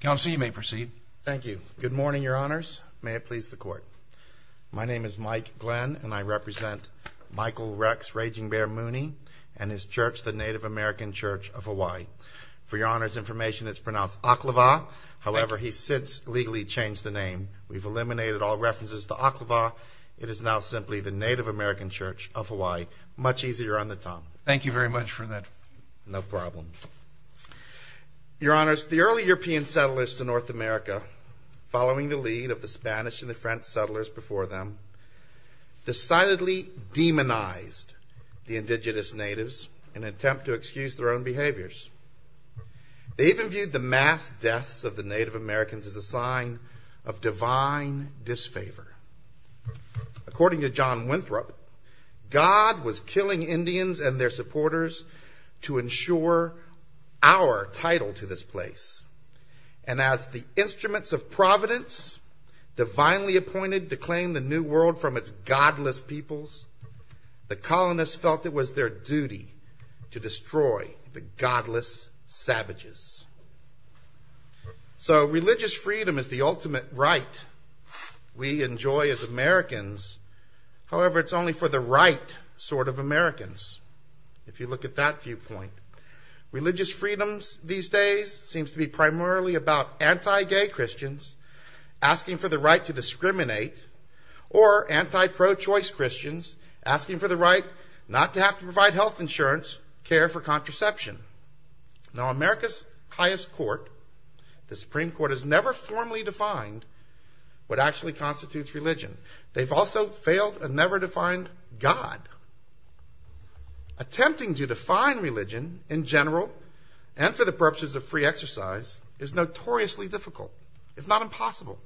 Counsel, you may proceed. Thank you. Good morning, Your Honors. May it please the Court. My name is Mike Glenn, and I represent Michael Rex Raging Bear Mooney and his church, the Native American Church of Hawaii. For Your Honors information, it's pronounced Ah-kluh-vah. However, he's since legally changed the name. We've eliminated all references to Ah-kluh-vah. It is now simply the Native American Church of Hawaii. Much easier on the tongue. Thank you very much for that. No problem. Your Honors, the early European settlers to North America, following the lead of the Spanish and the French settlers before them, decidedly demonized the indigenous natives in an attempt to excuse their own behaviors. They even viewed the mass deaths of the Native Americans as a sign of divine disfavor. According to John Winthrop, God was killing Indians and their supporters to ensure our title to this place. And as the instruments of providence divinely appointed to claim the new world from its godless peoples, the colonists felt it was their duty to destroy the godless savages. So religious freedom is the ultimate right we enjoy as Americans. However, it's only for the right sort of Americans, if you look at that viewpoint. Religious freedoms these days seems to be primarily about anti-gay Christians asking for the right to discriminate or anti-pro-choice Christians asking for the right not to have to provide health insurance, care for contraception. Now America's highest court, the Supreme Court, has never formally defined what actually God. Attempting to define religion in general and for the purposes of free exercise is notoriously difficult, if not impossible.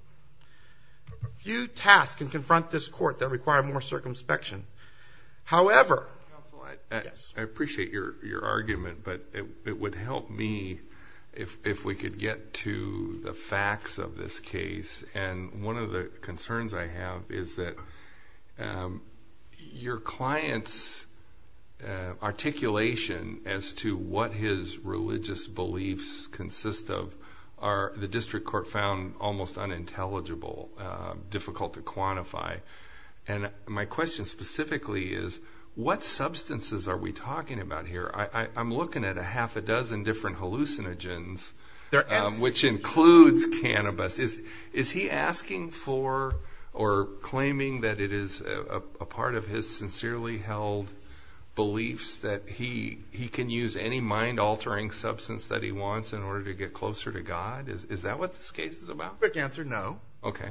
Few tasks can confront this court that require more circumspection. However... I appreciate your argument but it would help me if we could get to the facts of this case and one of the client's articulation as to what his religious beliefs consist of are the district court found almost unintelligible, difficult to quantify. And my question specifically is what substances are we talking about here? I'm looking at a half a dozen different hallucinogens, which includes cannabis. Is he asking for or claiming that it is a part of his sincerely held beliefs that he can use any mind-altering substance that he wants in order to get closer to God? Is that what this case is about? Quick answer, no. Okay.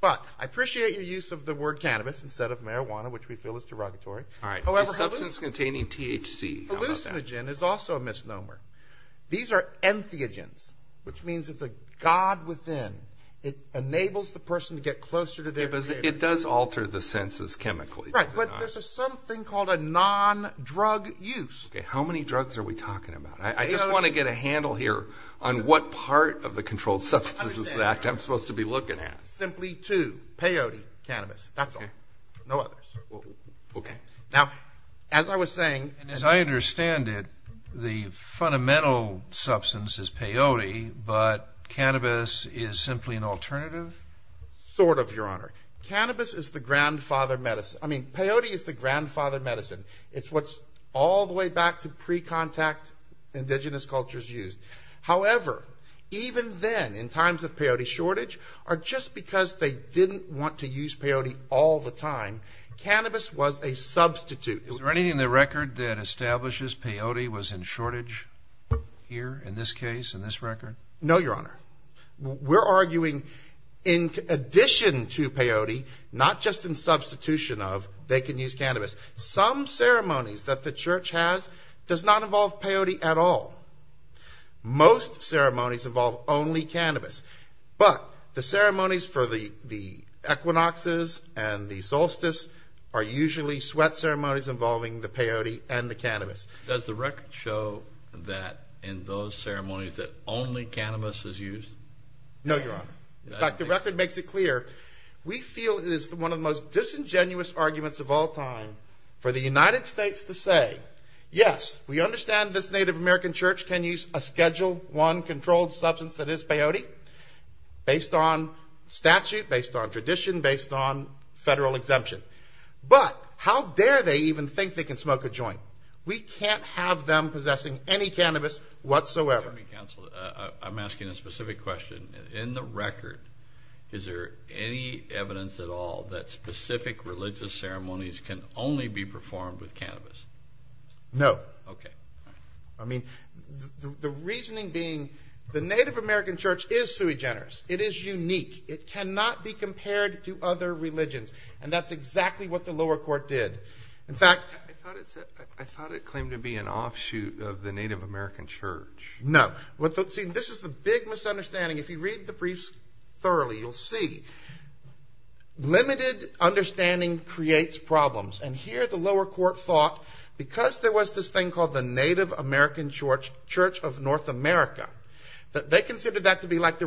But I appreciate your use of the word cannabis instead of marijuana, which we feel is derogatory. All right, a substance containing THC. Hallucinogen is also a hallucinogen, which means it's a God within. It enables the person to get closer to their Creator. It does alter the senses chemically. Right, but there's a something called a non-drug use. Okay, how many drugs are we talking about? I just want to get a handle here on what part of the Controlled Substances Act I'm supposed to be looking at. Simply two, peyote, cannabis. That's all. No others. Okay. Now, as I understand it, the fundamental substance is peyote, but cannabis is simply an alternative? Sort of, Your Honor. Cannabis is the grandfather medicine. I mean, peyote is the grandfather medicine. It's what's all the way back to pre-contact indigenous cultures used. However, even then, in times of peyote shortage, or just because they didn't want to use peyote all the time, cannabis was a substitute. Is there anything in the record that establishes peyote was in shortage here, in this case, in this record? No, Your Honor. We're arguing in addition to peyote, not just in substitution of, they can use cannabis. Some ceremonies that the Church has does not involve peyote at all. Most ceremonies involve only cannabis, but the ceremonies for the peyote and the cannabis. Does the record show that in those ceremonies that only cannabis is used? No, Your Honor. In fact, the record makes it clear. We feel it is one of the most disingenuous arguments of all time for the United States to say, yes, we understand this Native American Church can use a Schedule I controlled substance that is peyote, based on statute, based on tradition, based on what we think they can smoke a joint. We can't have them possessing any cannabis whatsoever. I'm asking a specific question. In the record, is there any evidence at all that specific religious ceremonies can only be performed with cannabis? No. Okay. I mean, the reasoning being the Native American Church is sui generis. It is unique. It cannot be compared to other religions, and that's exactly what the lower court did. I thought it claimed to be an offshoot of the Native American Church. No. This is the big misunderstanding. If you read the briefs thoroughly, you'll see. Limited understanding creates problems, and here the lower court thought, because there was this thing called the Native American Church of North America, that they considered that to be like the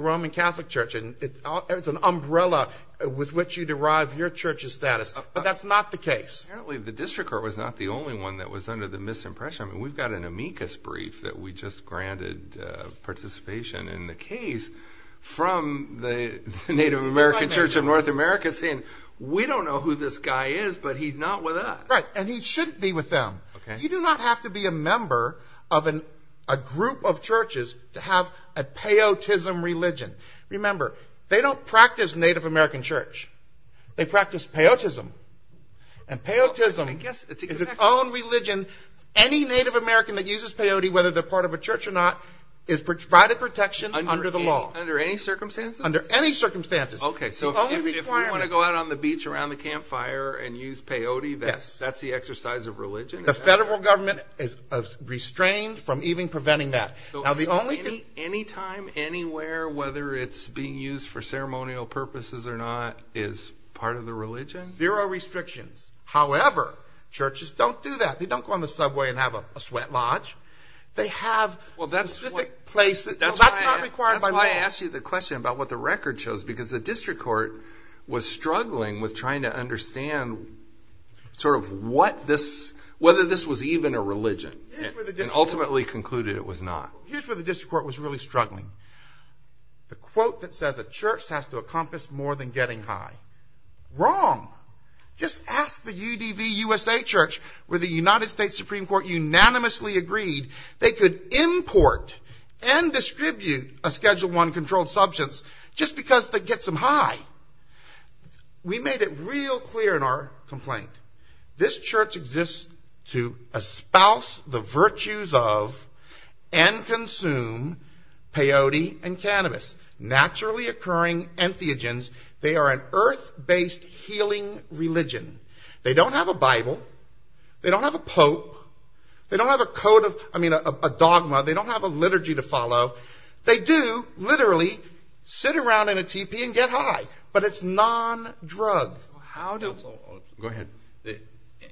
But that's not the case. Apparently the district court was not the only one that was under the misimpression. We've got an amicus brief that we just granted participation in the case from the Native American Church of North America saying, we don't know who this guy is, but he's not with us. Right, and he shouldn't be with them. You do not have to be a member of a group of churches to have a peyotism religion. Remember, they don't practice Native American Church. They practice peyotism, and peyotism is its own religion. Any Native American that uses peyote, whether they're part of a church or not, is provided protection under the law. Under any circumstances? Under any circumstances. Okay, so if you want to go out on the beach around the campfire and use peyote, that's the exercise of time, anywhere, whether it's being used for ceremonial purposes or not, is part of the religion? Zero restrictions. However, churches don't do that. They don't go on the subway and have a sweat lodge. They have specific places. That's why I asked you the question about what the record shows, because the district court was struggling with trying to understand sort of what this, whether this was even a The quote that says a church has to accomplish more than getting high. Wrong. Just ask the UDV USA Church, where the United States Supreme Court unanimously agreed they could import and distribute a Schedule I controlled substance just because it gets them high. We made it real clear in our complaint. This church exists to espouse the virtues of and consume peyote and cannabis, naturally occurring entheogens. They are an earth-based healing religion. They don't have a Bible. They don't have a pope. They don't have a code of, I mean, a dogma. They don't have a liturgy to follow. They do literally sit around in a teepee and get high, but it's non-drug. Go ahead.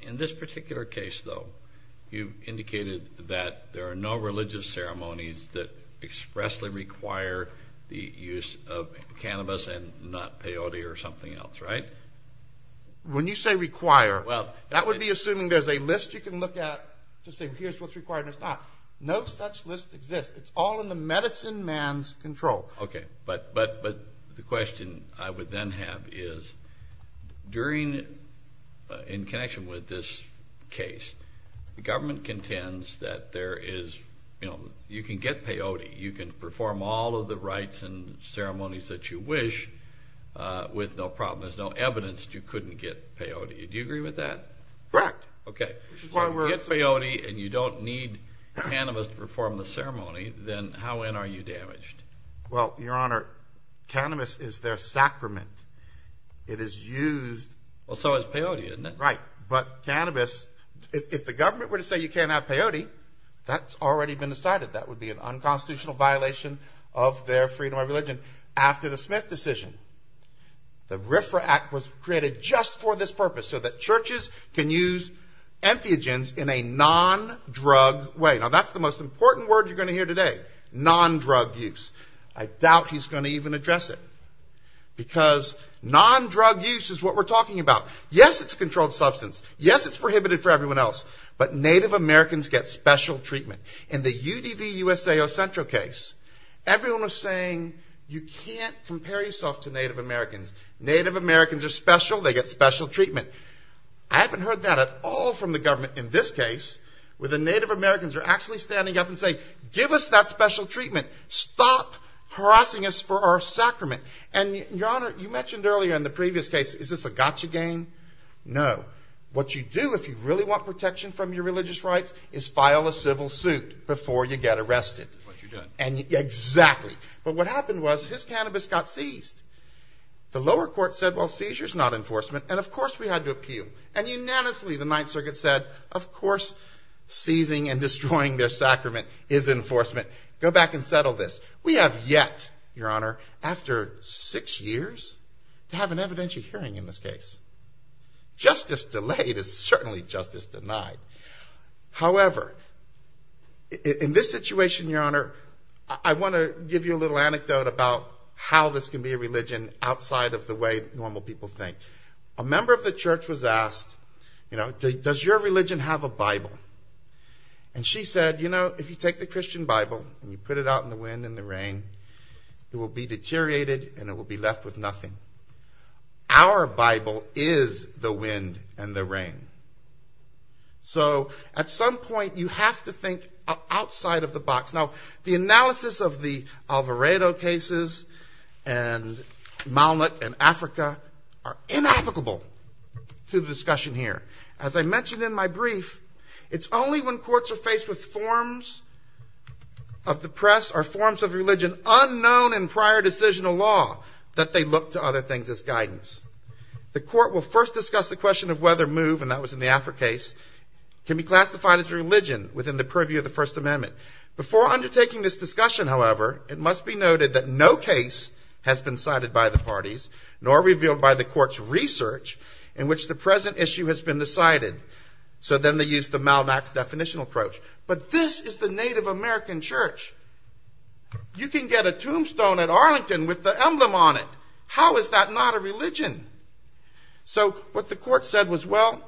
In this particular case, though, you indicated that there are no religious ceremonies that expressly require the use of cannabis and not peyote or something else, right? When you say require, that would be assuming there's a list you can look at to say here's what's required and what's not. No such list exists. It's all in the medicine man's control. Okay, but the question I would then have is, in connection with this case, the government contends that you can get peyote. You can perform all of the rites and ceremonies that you wish with no problem. There's no evidence that you couldn't get peyote. Do you agree with that? Correct. Okay. If you get peyote and you don't need cannabis to perform the ceremony, then how in are you damaged? Well, Your Honor, cannabis is their sacrament. It is used. Well, so is peyote, isn't it? Right. But cannabis, if the government were to say you can't have peyote, that's already been decided. That would be an unconstitutional violation of their freedom of religion. After the Smith decision, the RFRA Act was created just for this purpose, so that churches can use entheogens in a non-drug way. Now, that's the most important word you're going to hear today, non-drug use. I doubt he's going to even address it, because non-drug use is what we're talking about. Yes, it's a controlled substance. Yes, it's prohibited for everyone else. But Native Americans get special treatment. In the UDV-USAO-Centro case, everyone was saying you can't compare yourself to Native Americans. Native Americans are special. They get special treatment. I haven't heard that at all from the government in this case, where the Native Americans are actually standing up and saying, give us that special treatment. Stop harassing us for our sacrament. And, Your Honor, you mentioned earlier in the previous case, is this a gotcha game? No. What you do if you really want protection from your religious rights is file a civil suit before you get arrested. That's what you're doing. Exactly. But what happened was his cannabis got seized. The lower court said, well, seizure's not enforcement, and, of course, we had to appeal. And unanimously, the Ninth Circuit said, of course, seizing and destroying their sacrament is enforcement. Go back and settle this. We have yet, Your Honor, after six years to have an evidentiary hearing in this case. Justice delayed is certainly justice denied. However, in this situation, Your Honor, I want to give you a little anecdote about how this can be a religion outside of the way normal people think. A member of the church was asked, you know, does your religion have a Bible? And she said, you know, if you take the Christian Bible and you put it out in the wind and the rain, it will be deteriorated and it will be left with nothing. Our Bible is the wind and the rain. So at some point, you have to think outside of the box. Now, the analysis of the Alvarado cases and Malnick and Africa are inapplicable to the discussion here. As I mentioned in my brief, it's only when courts are faced with forms of the press or forms of religion unknown in prior decisional law that they look to other things as guidance. The court will first discuss the question of whether move, and that was in the Africa case, can be classified as religion within the purview of the First Amendment. Before undertaking this discussion, however, it must be noted that no case has been cited by the parties nor revealed by the court's research in which the present issue has been decided. So then they use the Malnick's definitional approach. But this is the Native American church. You can get a tombstone at Arlington with the emblem on it. How is that not a religion? So what the court said was, well,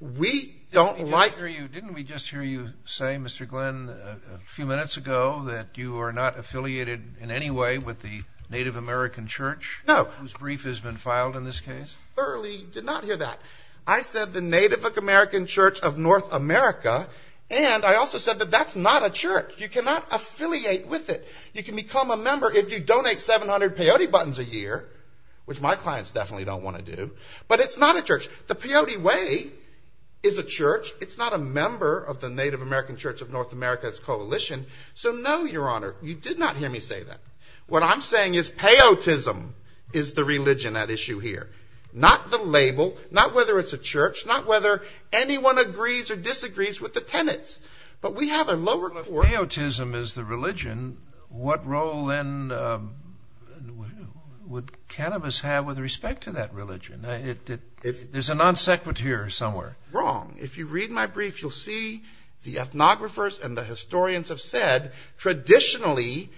we don't like... Didn't we just hear you say, Mr. Glenn, a few minutes ago that you are not affiliated in any way with the Native American church? No. Whose brief has been filed in this case? Thoroughly did not hear that. I said the Native American church of North America, and I also said that that's not a church. You cannot affiliate with it. You can become a member if you donate 700 peyote buttons a year, which my clients definitely don't want to do. But it's not a church. The peyote way is a church. It's not a member of the Native American church of North America's coalition. So no, Your Honor, you did not hear me say that. What I'm saying is peyotism is the religion at issue here, not the label, not whether it's a church, not whether anyone agrees or disagrees with the tenets. But we have a lower... If peyotism is the religion, what role then would cannabis have with respect to that religion? There's a non sequitur somewhere. Wrong. If you read my brief, you'll see the ethnographers and the historians have said traditionally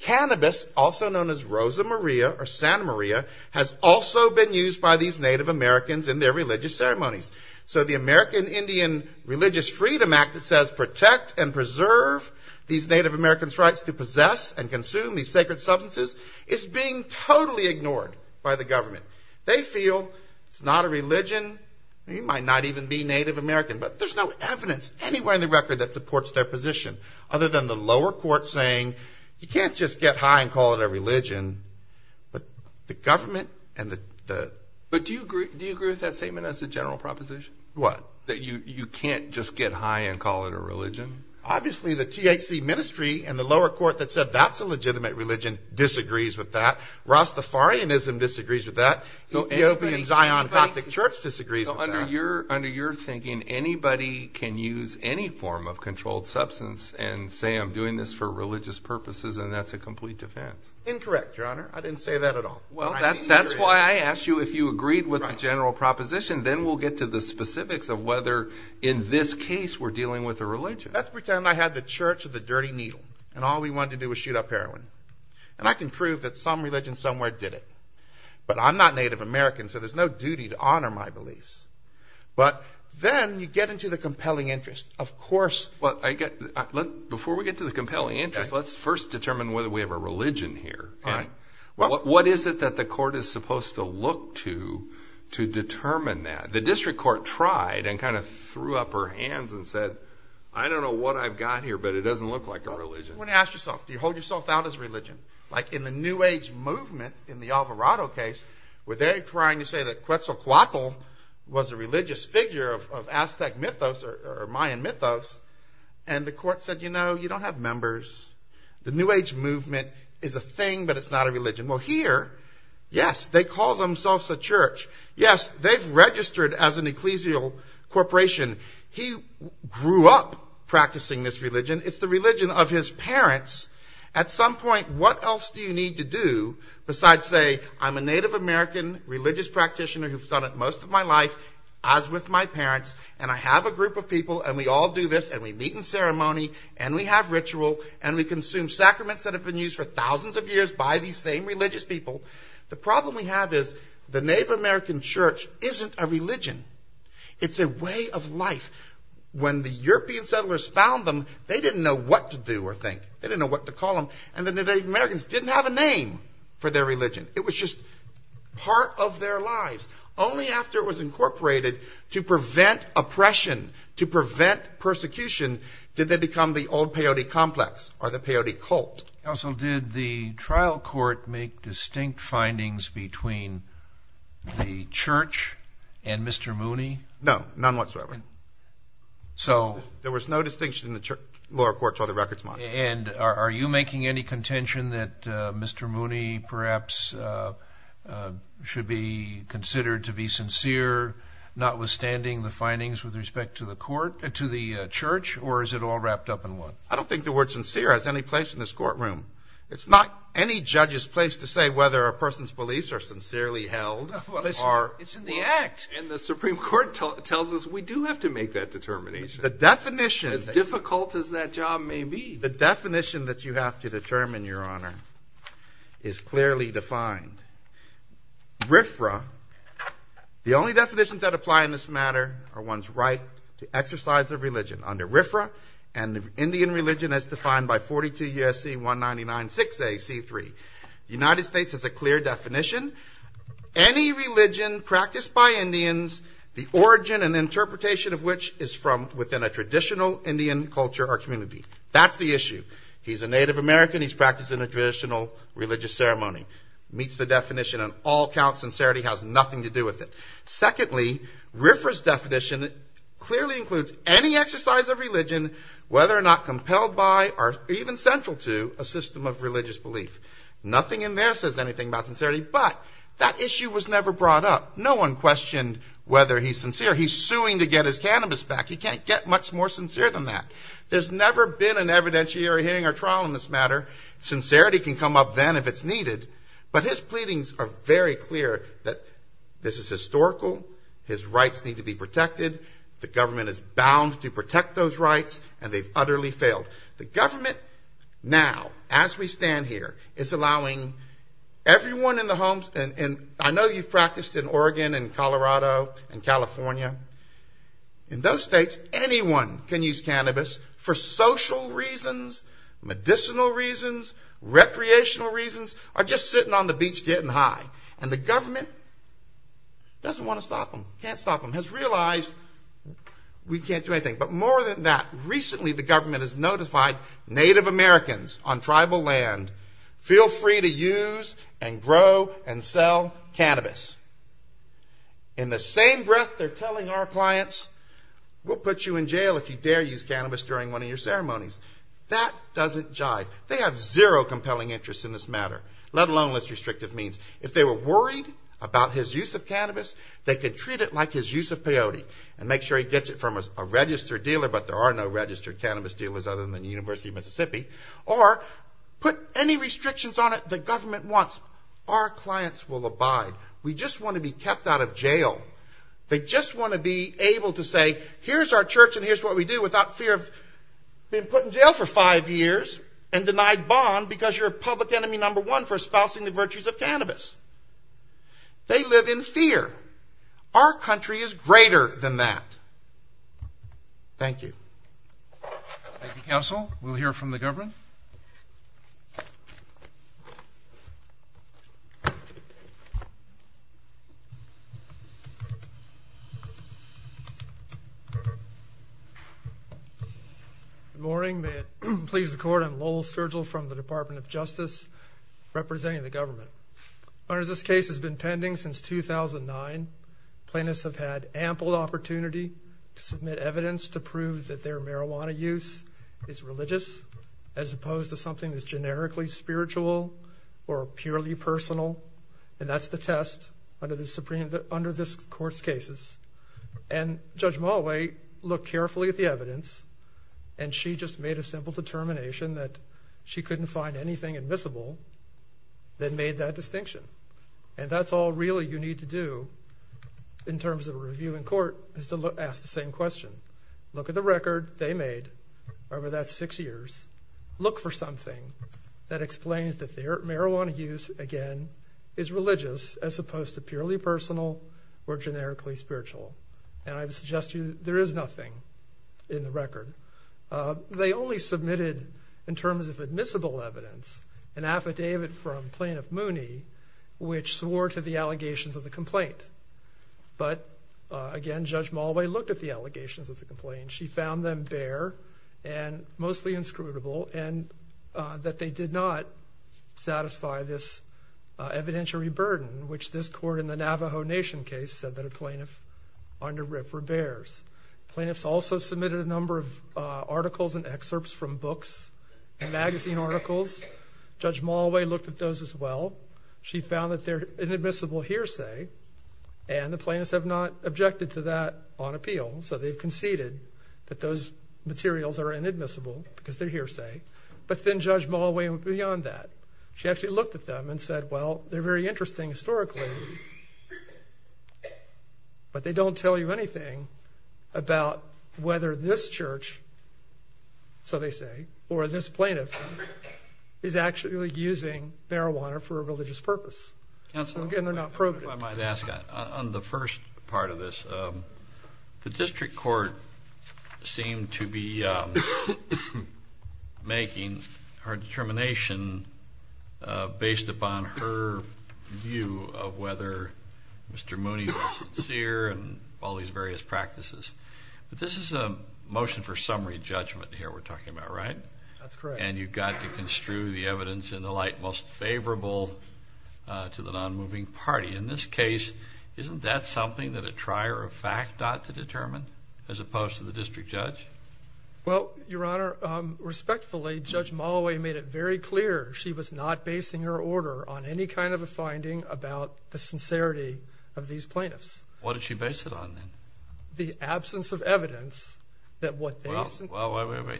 cannabis, also known as Rosa Maria or Santa Maria, has also been used by these Native Americans in their religious ceremonies. So the American Indian Religious Freedom Act that says protect and preserve these Native Americans' rights to possess and consume these sacred substances is being totally ignored by the government. They feel it's not a religion. You might not even be Native American, but there's no evidence anywhere in the record that supports their position other than the lower court saying you can't just get high and call it a religion. But the government and the... What? That you can't just get high and call it a religion. Obviously the THC ministry and the lower court that said that's a legitimate religion disagrees with that. Rastafarianism disagrees with that. Ethiopian Zion Coptic Church disagrees with that. Under your thinking, anybody can use any form of controlled substance and say I'm doing this for religious purposes and that's a complete defense. Incorrect, Your Honor. I didn't say that at all. Well, that's why I asked you if you agreed with the general proposition. Then we'll get to the specifics of whether in this case we're dealing with a religion. Let's pretend I had the church of the dirty needle and all we wanted to do was shoot up heroin. And I can prove that some religion somewhere did it. But I'm not Native American, so there's no duty to honor my beliefs. But then you get into the compelling interest. Of course... Before we get to the compelling interest, let's first determine whether we have a religion here. All right. What is it that the court is supposed to look to to determine that? The district court tried and kind of threw up her hands and said, I don't know what I've got here, but it doesn't look like a religion. You want to ask yourself, do you hold yourself out as religion? Like in the New Age movement, in the Alvarado case, where they're trying to say that Quetzalcoatl was a religious figure of Aztec mythos or Mayan mythos. And the court said, you know, you don't have members. The New Age movement is a thing, but it's not a religion. Well, here, yes, they call themselves a church. Yes, they've registered as an ecclesial corporation. He grew up practicing this religion. It's the religion of his parents. At some point, what else do you need to do besides say, I'm a Native American religious practitioner who's done it most of my life, as with my parents, and I have a group of people, and we all do this, and we meet in ceremony, and we have ritual, and we consume sacraments that have been used for thousands of years by these same religious people. The problem we have is the Native American church isn't a religion. It's a way of life. When the European settlers found them, they didn't know what to do or think. They didn't know what to call them. And the Native Americans didn't have a name for their religion. It was just part of their lives. Only after it was incorporated to prevent oppression, to prevent persecution, did they become the old peyote complex or the peyote cult. Counsel, did the trial court make distinct findings between the church and Mr. Mooney? No, none whatsoever. There was no distinction in the lower courts or the records monitor. And are you making any contention that Mr. Mooney perhaps should be considered to be sincere, notwithstanding the findings with respect to the court, to the church, or is it all wrapped up in one? I don't think the word sincere has any place in this courtroom. It's not any judge's place to say whether a person's beliefs are sincerely held. It's in the act, and the Supreme Court tells us we do have to make that determination. As difficult as that job may be. The definition that you have to determine, Your Honor, is clearly defined. RFRA, the only definitions that apply in this matter are one's right to exercise their religion. Under RFRA, an Indian religion as defined by 42 U.S.C. 199-6AC3, the United States has a clear definition. Any religion practiced by Indians, the origin and interpretation of which is from within a traditional Indian culture or community. That's the issue. He's a Native American. He's practiced in a traditional religious ceremony. Meets the definition on all counts. Sincerity has nothing to do with it. Secondly, RFRA's definition clearly includes any exercise of religion, whether or not compelled by or even central to a system of religious belief. Nothing in there says anything about sincerity, but that issue was never brought up. No one questioned whether he's sincere. He's suing to get his cannabis back. He can't get much more sincere than that. There's never been an evidentiary hearing or trial in this matter. Sincerity can come up then if it's needed, but his pleadings are very clear that this is historical. His rights need to be protected. The government is bound to protect those rights, and they've utterly failed. The government now, as we stand here, is allowing everyone in the homes. I know you've practiced in Oregon and Colorado and California. In those states, anyone can use cannabis for social reasons, medicinal reasons, recreational reasons, or just sitting on the beach getting high. And the government doesn't want to stop them, can't stop them, has realized we can't do anything. But more than that, recently the government has notified Native Americans on tribal land, feel free to use and grow and sell cannabis. In the same breath, they're telling our clients, we'll put you in jail if you dare use cannabis during one of your ceremonies. That doesn't jive. They have zero compelling interest in this matter, let alone less restrictive means. If they were worried about his use of cannabis, they could treat it like his use of peyote and make sure he gets it from a registered dealer, but there are no registered cannabis dealers other than the University of Mississippi, or put any restrictions on it the government wants. Our clients will abide. We just want to be kept out of jail. They just want to be able to say, here's our church and here's what we do, without fear of being put in jail for five years and denied bond because you're public enemy number one for espousing the virtues of cannabis. They live in fear. Our country is greater than that. Thank you. Thank you, counsel. We'll hear from the government. Good morning. May it please the court, I'm Lowell Sturgill from the Department of Justice representing the government. This case has been pending since 2009. Plaintiffs have had ample opportunity to submit evidence to prove that their marijuana use is religious as opposed to something that's generically spiritual or purely personal, and that's the test under this Supreme Court's cases. Judge Mulway looked carefully at the evidence, and she just made a simple determination that she couldn't find anything admissible that made that distinction, and that's all really you need to do in terms of a review in court is to ask the same question. Look at the record they made over that six years. Look for something that explains that their marijuana use, again, is religious as opposed to purely personal or generically spiritual, and I would suggest to you there is nothing in the record. They only submitted, in terms of admissible evidence, an affidavit from Plaintiff Mooney, which swore to the allegations of the complaint. But, again, Judge Mulway looked at the allegations of the complaint. She found them bare and mostly inscrutable, and that they did not satisfy this evidentiary burden, which this court in the Navajo Nation case said that a plaintiff under RIP were bares. Plaintiffs also submitted a number of articles and excerpts from books and magazine articles. Judge Mulway looked at those as well. She found that they're inadmissible hearsay, and the plaintiffs have not objected to that on appeal, so they've conceded that those materials are inadmissible because they're hearsay. But then Judge Mulway went beyond that. She actually looked at them and said, well, they're very interesting historically, but they don't tell you anything about whether this church, so they say, or this plaintiff is actually using marijuana for a religious purpose. Again, they're not probative. If I might ask, on the first part of this, the district court seemed to be making her determination based upon her view of whether Mr. Mooney was sincere and all these various practices. But this is a motion for summary judgment here we're talking about, right? That's correct. And you've got to construe the evidence in the light most favorable to the nonmoving party. In this case, isn't that something that a trier of fact ought to determine as opposed to the district judge? Well, Your Honor, respectfully, Judge Mulway made it very clear she was not basing her order on any kind of a finding about the sincerity of these plaintiffs. What did she base it on then? The absence of evidence that what they said. I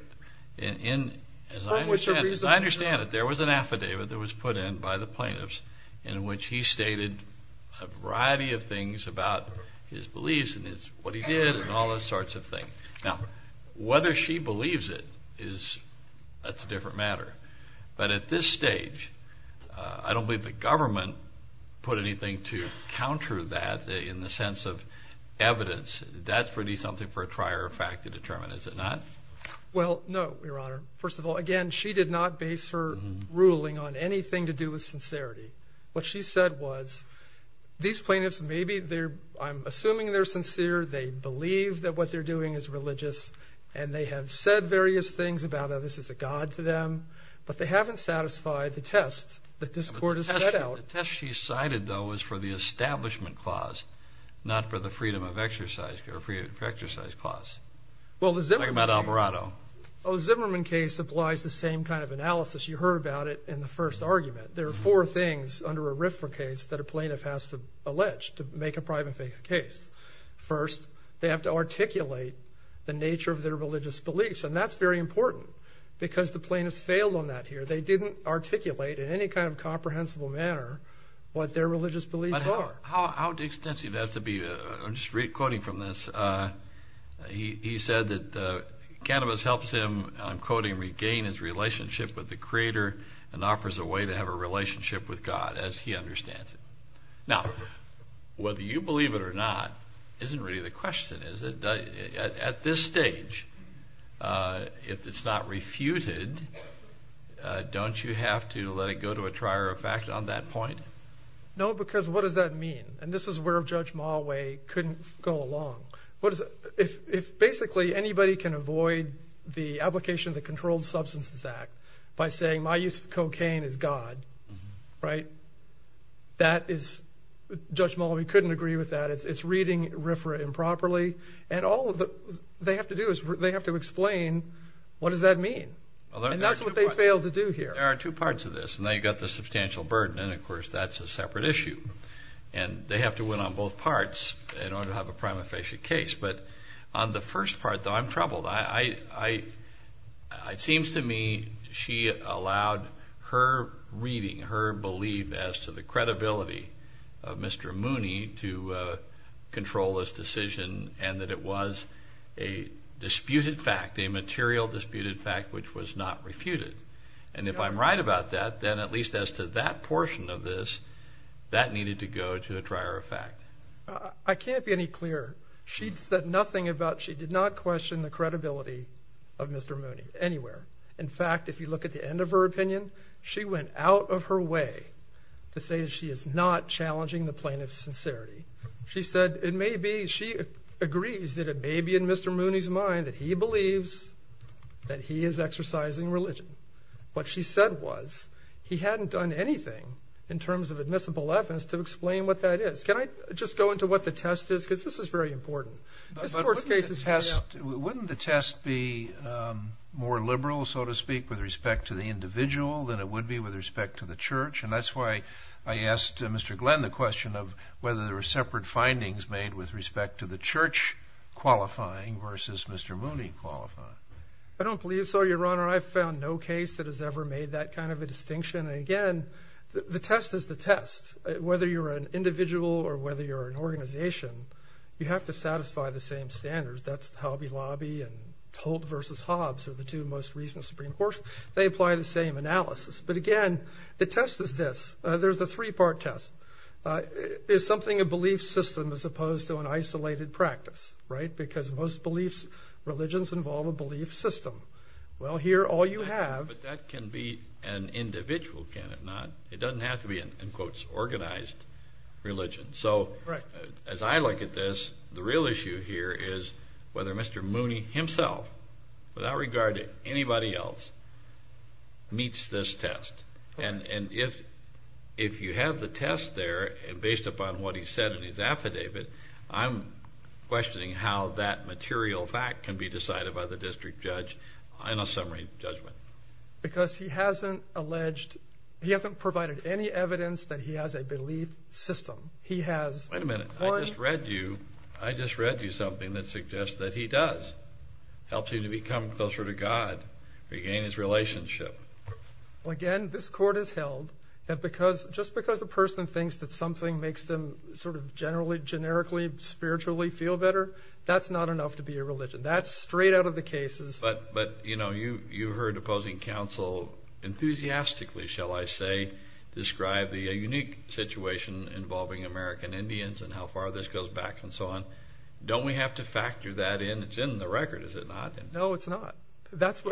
understand it. There was an affidavit that was put in by the plaintiffs in which he stated a variety of things about his beliefs and what he did and all those sorts of things. Now, whether she believes it, that's a different matter. But at this stage, I don't believe the government put anything to counter that in the sense of evidence. That's really something for a trier of fact to determine, is it not? Well, no, Your Honor. First of all, again, she did not base her ruling on anything to do with sincerity. What she said was these plaintiffs maybe they're assuming they're sincere, they believe that what they're doing is religious, and they have said various things about how this is a god to them, but they haven't satisfied the test that this court has set out. The test she cited, though, was for the Establishment Clause, not for the Freedom of Exercise Clause. Talk about Alvarado. The Zimmerman case applies the same kind of analysis. You heard about it in the first argument. There are four things under a RFRA case that a plaintiff has to allege to make a private faith case. First, they have to articulate the nature of their religious beliefs, and that's very important because the plaintiffs failed on that here. They didn't articulate in any kind of comprehensible manner what their religious beliefs are. How extensive does it have to be? I'm just quoting from this. He said that cannabis helps him, I'm quoting, regain his relationship with the Creator and offers a way to have a relationship with God as he understands it. Now, whether you believe it or not isn't really the question, is it? At this stage, if it's not refuted, don't you have to let it go to a trier of fact on that point? No, because what does that mean? And this is where Judge Malaway couldn't go along. If basically anybody can avoid the application of the Controlled Substances Act by saying, my use of cocaine is God, right, Judge Malaway couldn't agree with that. It's reading RFRA improperly. And all they have to do is they have to explain what does that mean. And that's what they failed to do here. There are two parts of this, and now you've got the substantial burden. And, of course, that's a separate issue. And they have to win on both parts in order to have a prima facie case. But on the first part, though, I'm troubled. It seems to me she allowed her reading, her belief as to the credibility of Mr. Mooney to control this decision and that it was a disputed fact, a material disputed fact, which was not refuted. And if I'm right about that, then at least as to that portion of this, that needed to go to a trier of fact. I can't be any clearer. She said nothing about she did not question the credibility of Mr. Mooney anywhere. In fact, if you look at the end of her opinion, she went out of her way to say she is not challenging the plaintiff's sincerity. She said it may be she agrees that it may be in Mr. Mooney's mind that he believes that he is exercising religion. What she said was he hadn't done anything in terms of admissible evidence to explain what that is. Can I just go into what the test is? Because this is very important. Wouldn't the test be more liberal, so to speak, with respect to the individual than it would be with respect to the church? And that's why I asked Mr. Glenn the question of whether there were separate findings made with respect to the church qualifying versus Mr. Mooney qualifying. I don't believe so, Your Honor. I've found no case that has ever made that kind of a distinction. And, again, the test is the test. Whether you're an individual or whether you're an organization, you have to satisfy the same standards. That's the Hobby Lobby and Holt versus Hobbs are the two most recent Supreme Courts. They apply the same analysis. But, again, the test is this. There's a three-part test. Is something a belief system as opposed to an isolated practice, right, because most beliefs, religions involve a belief system? Well, here all you have. But that can be an individual, can it not? It doesn't have to be an, in quotes, organized religion. So, as I look at this, the real issue here is whether Mr. Mooney himself, without regard to anybody else, meets this test. And if you have the test there, based upon what he said in his affidavit, I'm questioning how that material fact can be decided by the district judge in a summary judgment. Because he hasn't alleged, he hasn't provided any evidence that he has a belief system. He has. Wait a minute. I just read you something that suggests that he does. Helps him to become closer to God, regain his relationship. Well, again, this court has held that just because a person thinks that something makes them sort of generally, generically, spiritually feel better, that's not enough to be a religion. That's straight out of the cases. But, you know, you've heard opposing counsel enthusiastically, shall I say, describe the unique situation involving American Indians and how far this goes back and so on. Don't we have to factor that in? It's in the record, is it not? No, it's not.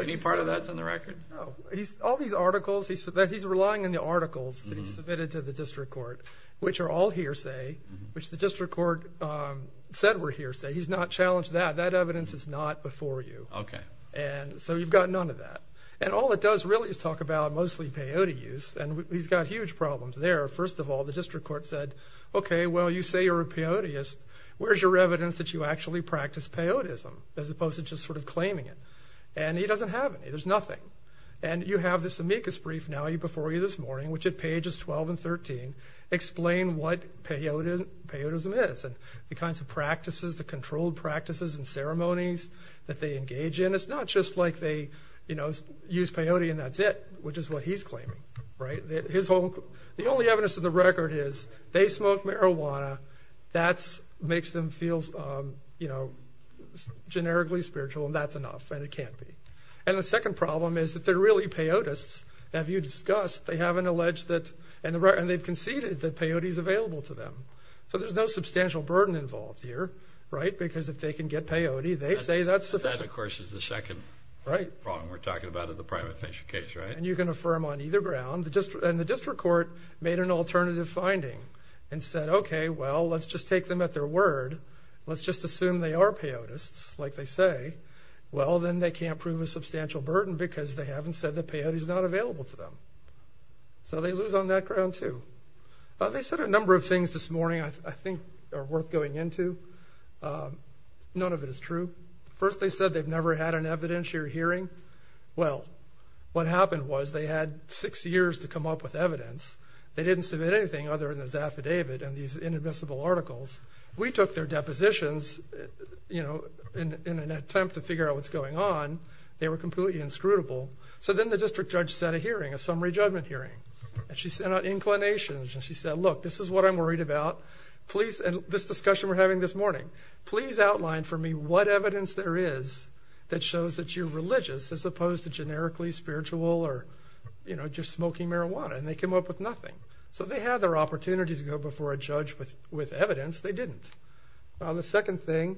Any part of that's in the record? No. All these articles, he's relying on the articles that he's submitted to the district court, which are all hearsay, which the district court said were hearsay. He's not challenged that. That evidence is not before you. Okay. And so you've got none of that. And all it does really is talk about mostly peyote use, and he's got huge problems there. First of all, the district court said, okay, well, you say you're a peyoteist. Where's your evidence that you actually practice peyotism, as opposed to just sort of claiming it? And he doesn't have any. There's nothing. And you have this amicus brief now before you this morning, which at pages 12 and 13, explain what peyotism is and the kinds of practices, the controlled practices and ceremonies that they engage in. It's not just like they, you know, use peyote and that's it, which is what he's claiming, right? The only evidence in the record is they smoke marijuana. That makes them feel, you know, generically spiritual, and that's enough, and it can't be. And the second problem is that they're really peyotists. As you discussed, they haven't alleged that, and they've conceded that peyote is available to them. So there's no substantial burden involved here, right, because if they can get peyote, they say that's sufficient. That, of course, is the second problem we're talking about in the private financial case, right? And you can affirm on either ground. And the district court made an alternative finding and said, okay, well, let's just take them at their word. Let's just assume they are peyotists, like they say. Well, then they can't prove a substantial burden because they haven't said that peyote is not available to them. So they lose on that ground, too. They said a number of things this morning I think are worth going into. None of it is true. First, they said they've never had an evidentiary hearing. Well, what happened was they had six years to come up with evidence. They didn't submit anything other than this affidavit and these inadmissible articles. We took their depositions, you know, in an attempt to figure out what's going on. They were completely inscrutable. So then the district judge set a hearing, a summary judgment hearing. And she sent out inclinations. And she said, look, this is what I'm worried about. Please, and this discussion we're having this morning, please outline for me what evidence there is that shows that you're religious as opposed to generically spiritual or, you know, just smoking marijuana. And they came up with nothing. So they had their opportunity to go before a judge with evidence. They didn't. The second thing,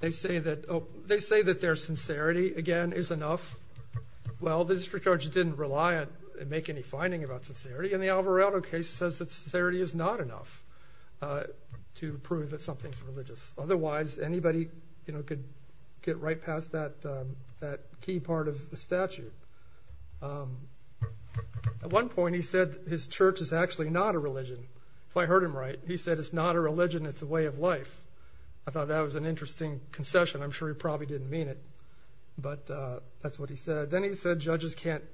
they say that their sincerity, again, is enough. Well, the district judge didn't rely and make any finding about sincerity. And the Alvarado case says that sincerity is not enough to prove that something is religious. Otherwise, anybody, you know, could get right past that key part of the statute. At one point, he said his church is actually not a religion. If I heard him right, he said it's not a religion, it's a way of life. I thought that was an interesting concession. I'm sure he probably didn't mean it. But that's what he said. Then he said judges can't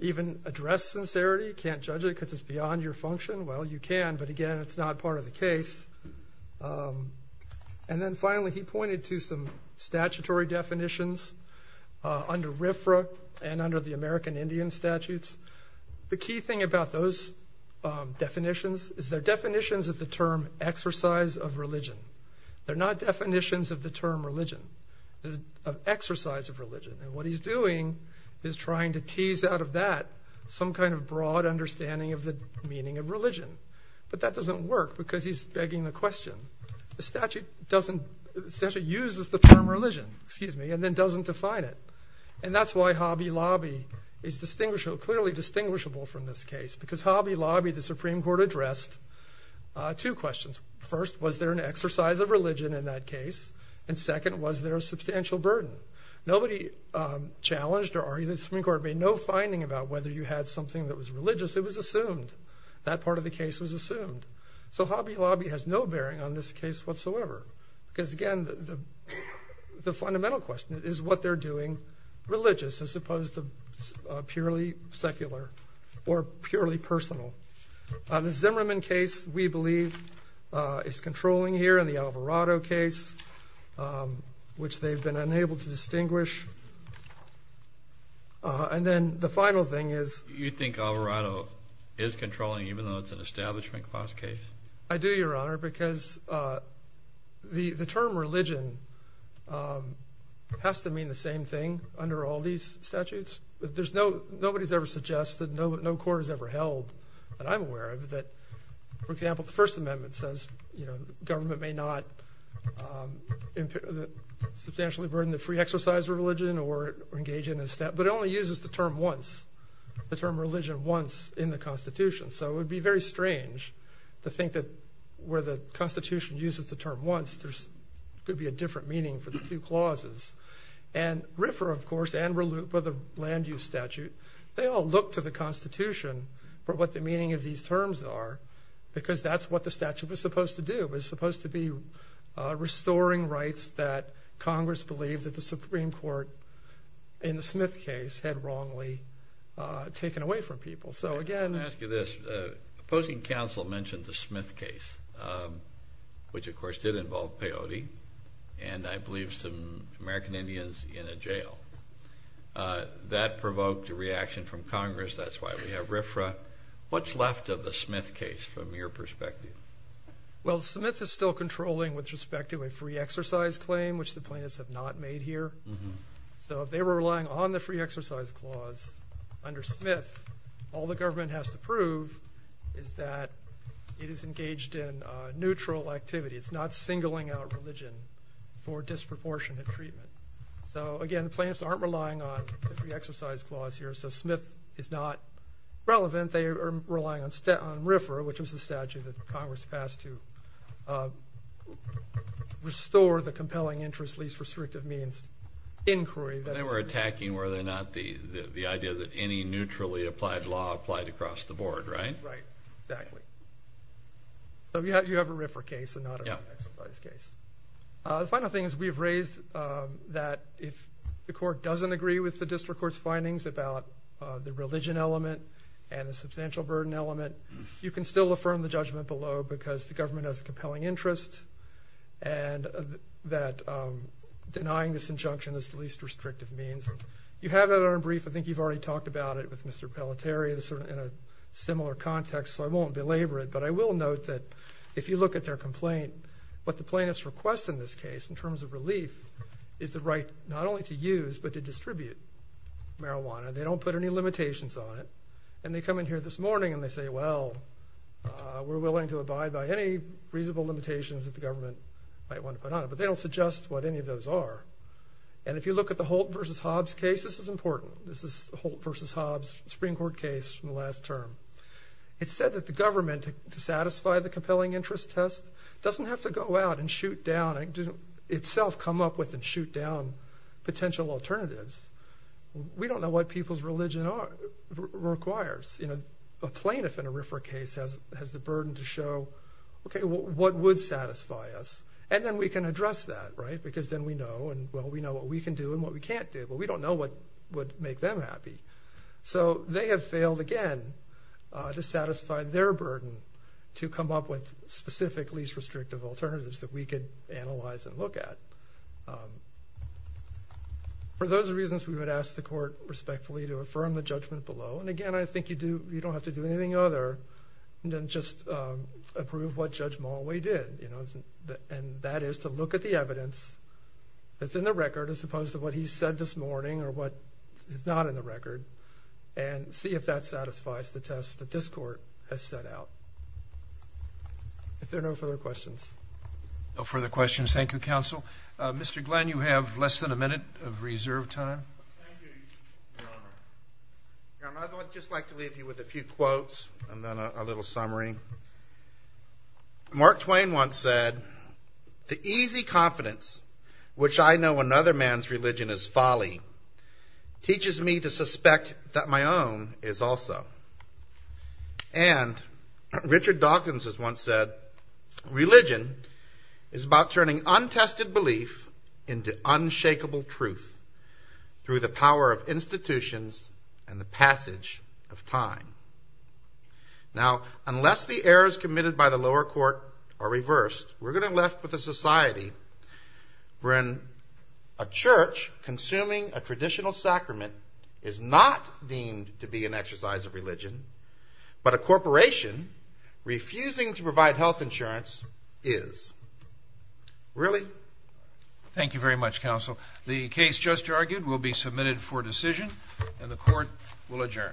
even address sincerity, can't judge it because it's beyond your function. Well, you can, but again, it's not part of the case. And then finally, he pointed to some statutory definitions under RFRA and under the American Indian statutes. The key thing about those definitions is they're definitions of the term exercise of religion. They're not definitions of the term religion, of exercise of religion. And what he's doing is trying to tease out of that some kind of broad understanding of the meaning of religion. But that doesn't work because he's begging the question. The statute uses the term religion and then doesn't define it. And that's why Hobby Lobby is clearly distinguishable from this case because Hobby Lobby, the Supreme Court addressed two questions. First, was there an exercise of religion in that case? And second, was there a substantial burden? Nobody challenged or argued that the Supreme Court made no finding about whether you had something that was religious. It was assumed. That part of the case was assumed. So Hobby Lobby has no bearing on this case whatsoever because, again, the fundamental question is what they're doing religious as opposed to purely secular or purely personal. The Zimmerman case, we believe, is controlling here and the Alvarado case, which they've been unable to distinguish. And then the final thing is. You think Alvarado is controlling even though it's an establishment class case? I do, Your Honor, because the term religion has to mean the same thing under all these statutes. Nobody has ever suggested, no court has ever held that I'm aware of that, for example, the First Amendment says government may not substantially burden the free exercise of religion or engage in a step, but it only uses the term once, the term religion once in the Constitution. So it would be very strange to think that where the Constitution uses the term once, there could be a different meaning for the two clauses. And RIFRA, of course, and RELU for the land use statute, they all look to the Constitution for what the meaning of these terms are because that's what the statute was supposed to do. It was supposed to be restoring rights that Congress believed that the Supreme Court, in the Smith case, had wrongly taken away from people. So again. Let me ask you this. Opposing counsel mentioned the Smith case, which, of course, did involve peyote, and I believe some American Indians in a jail. That provoked a reaction from Congress. That's why we have RIFRA. What's left of the Smith case from your perspective? Well, Smith is still controlling with respect to a free exercise claim, which the plaintiffs have not made here. So if they were relying on the free exercise clause under Smith, all the government has to prove is that it is engaged in neutral activity. It's not singling out religion for disproportionate treatment. So, again, the plaintiffs aren't relying on the free exercise clause here, so Smith is not relevant. They are relying on RIFRA, which was the statute that Congress passed to restore the compelling interest, least restrictive means inquiry. They were attacking, were they not, the idea that any neutrally applied law applied across the board, right? Right. Exactly. So you have a RIFRA case and not an exercise case. The final thing is we have raised that if the court doesn't agree with the district court's findings about the religion element and the substantial burden element, you can still affirm the judgment below because the government has a compelling interest and that denying this injunction is the least restrictive means. You have that on brief. I think you've already talked about it with Mr. Pelletier in a similar context, so I won't belabor it. But I will note that if you look at their complaint, what the plaintiffs request in this case in terms of relief is the right not only to use but to distribute marijuana. They don't put any limitations on it. And they come in here this morning and they say, well, we're willing to abide by any reasonable limitations that the government might want to put on it. But they don't suggest what any of those are. And if you look at the Holt v. Hobbs case, this is important. This is the Holt v. Hobbs Supreme Court case from the last term. It said that the government, to satisfy the compelling interest test, doesn't have to go out and shoot down and doesn't itself come up with and shoot down potential alternatives. We don't know what people's religion requires. A plaintiff in a RFRA case has the burden to show, okay, what would satisfy us? And then we can address that, right, because then we know, and, well, we know what we can do and what we can't do, but we don't know what would make them happy. So they have failed again to satisfy their burden to come up with specific least restrictive alternatives that we could analyze and look at. For those reasons, we would ask the court respectfully to affirm the judgment below. And, again, I think you don't have to do anything other than just approve what Judge Mulway did, and that is to look at the evidence that's in the record as opposed to what he said this morning or what is not in the record and see if that satisfies the test that this court has set out. If there are no further questions. No further questions. Thank you, counsel. Mr. Glenn, you have less than a minute of reserve time. Thank you, Your Honor. Your Honor, I'd just like to leave you with a few quotes and then a little summary. Mark Twain once said, The easy confidence which I know another man's religion is folly teaches me to suspect that my own is also. And Richard Dawkins has once said, Religion is about turning untested belief into unshakable truth through the power of institutions and the passage of time. Now, unless the errors committed by the lower court are reversed, we're going to be left with a society where a church consuming a traditional sacrament is not deemed to be an exercise of religion, but a corporation refusing to provide health insurance is. Really? Thank you very much, counsel. The case just argued will be submitted for decision and the court will adjourn.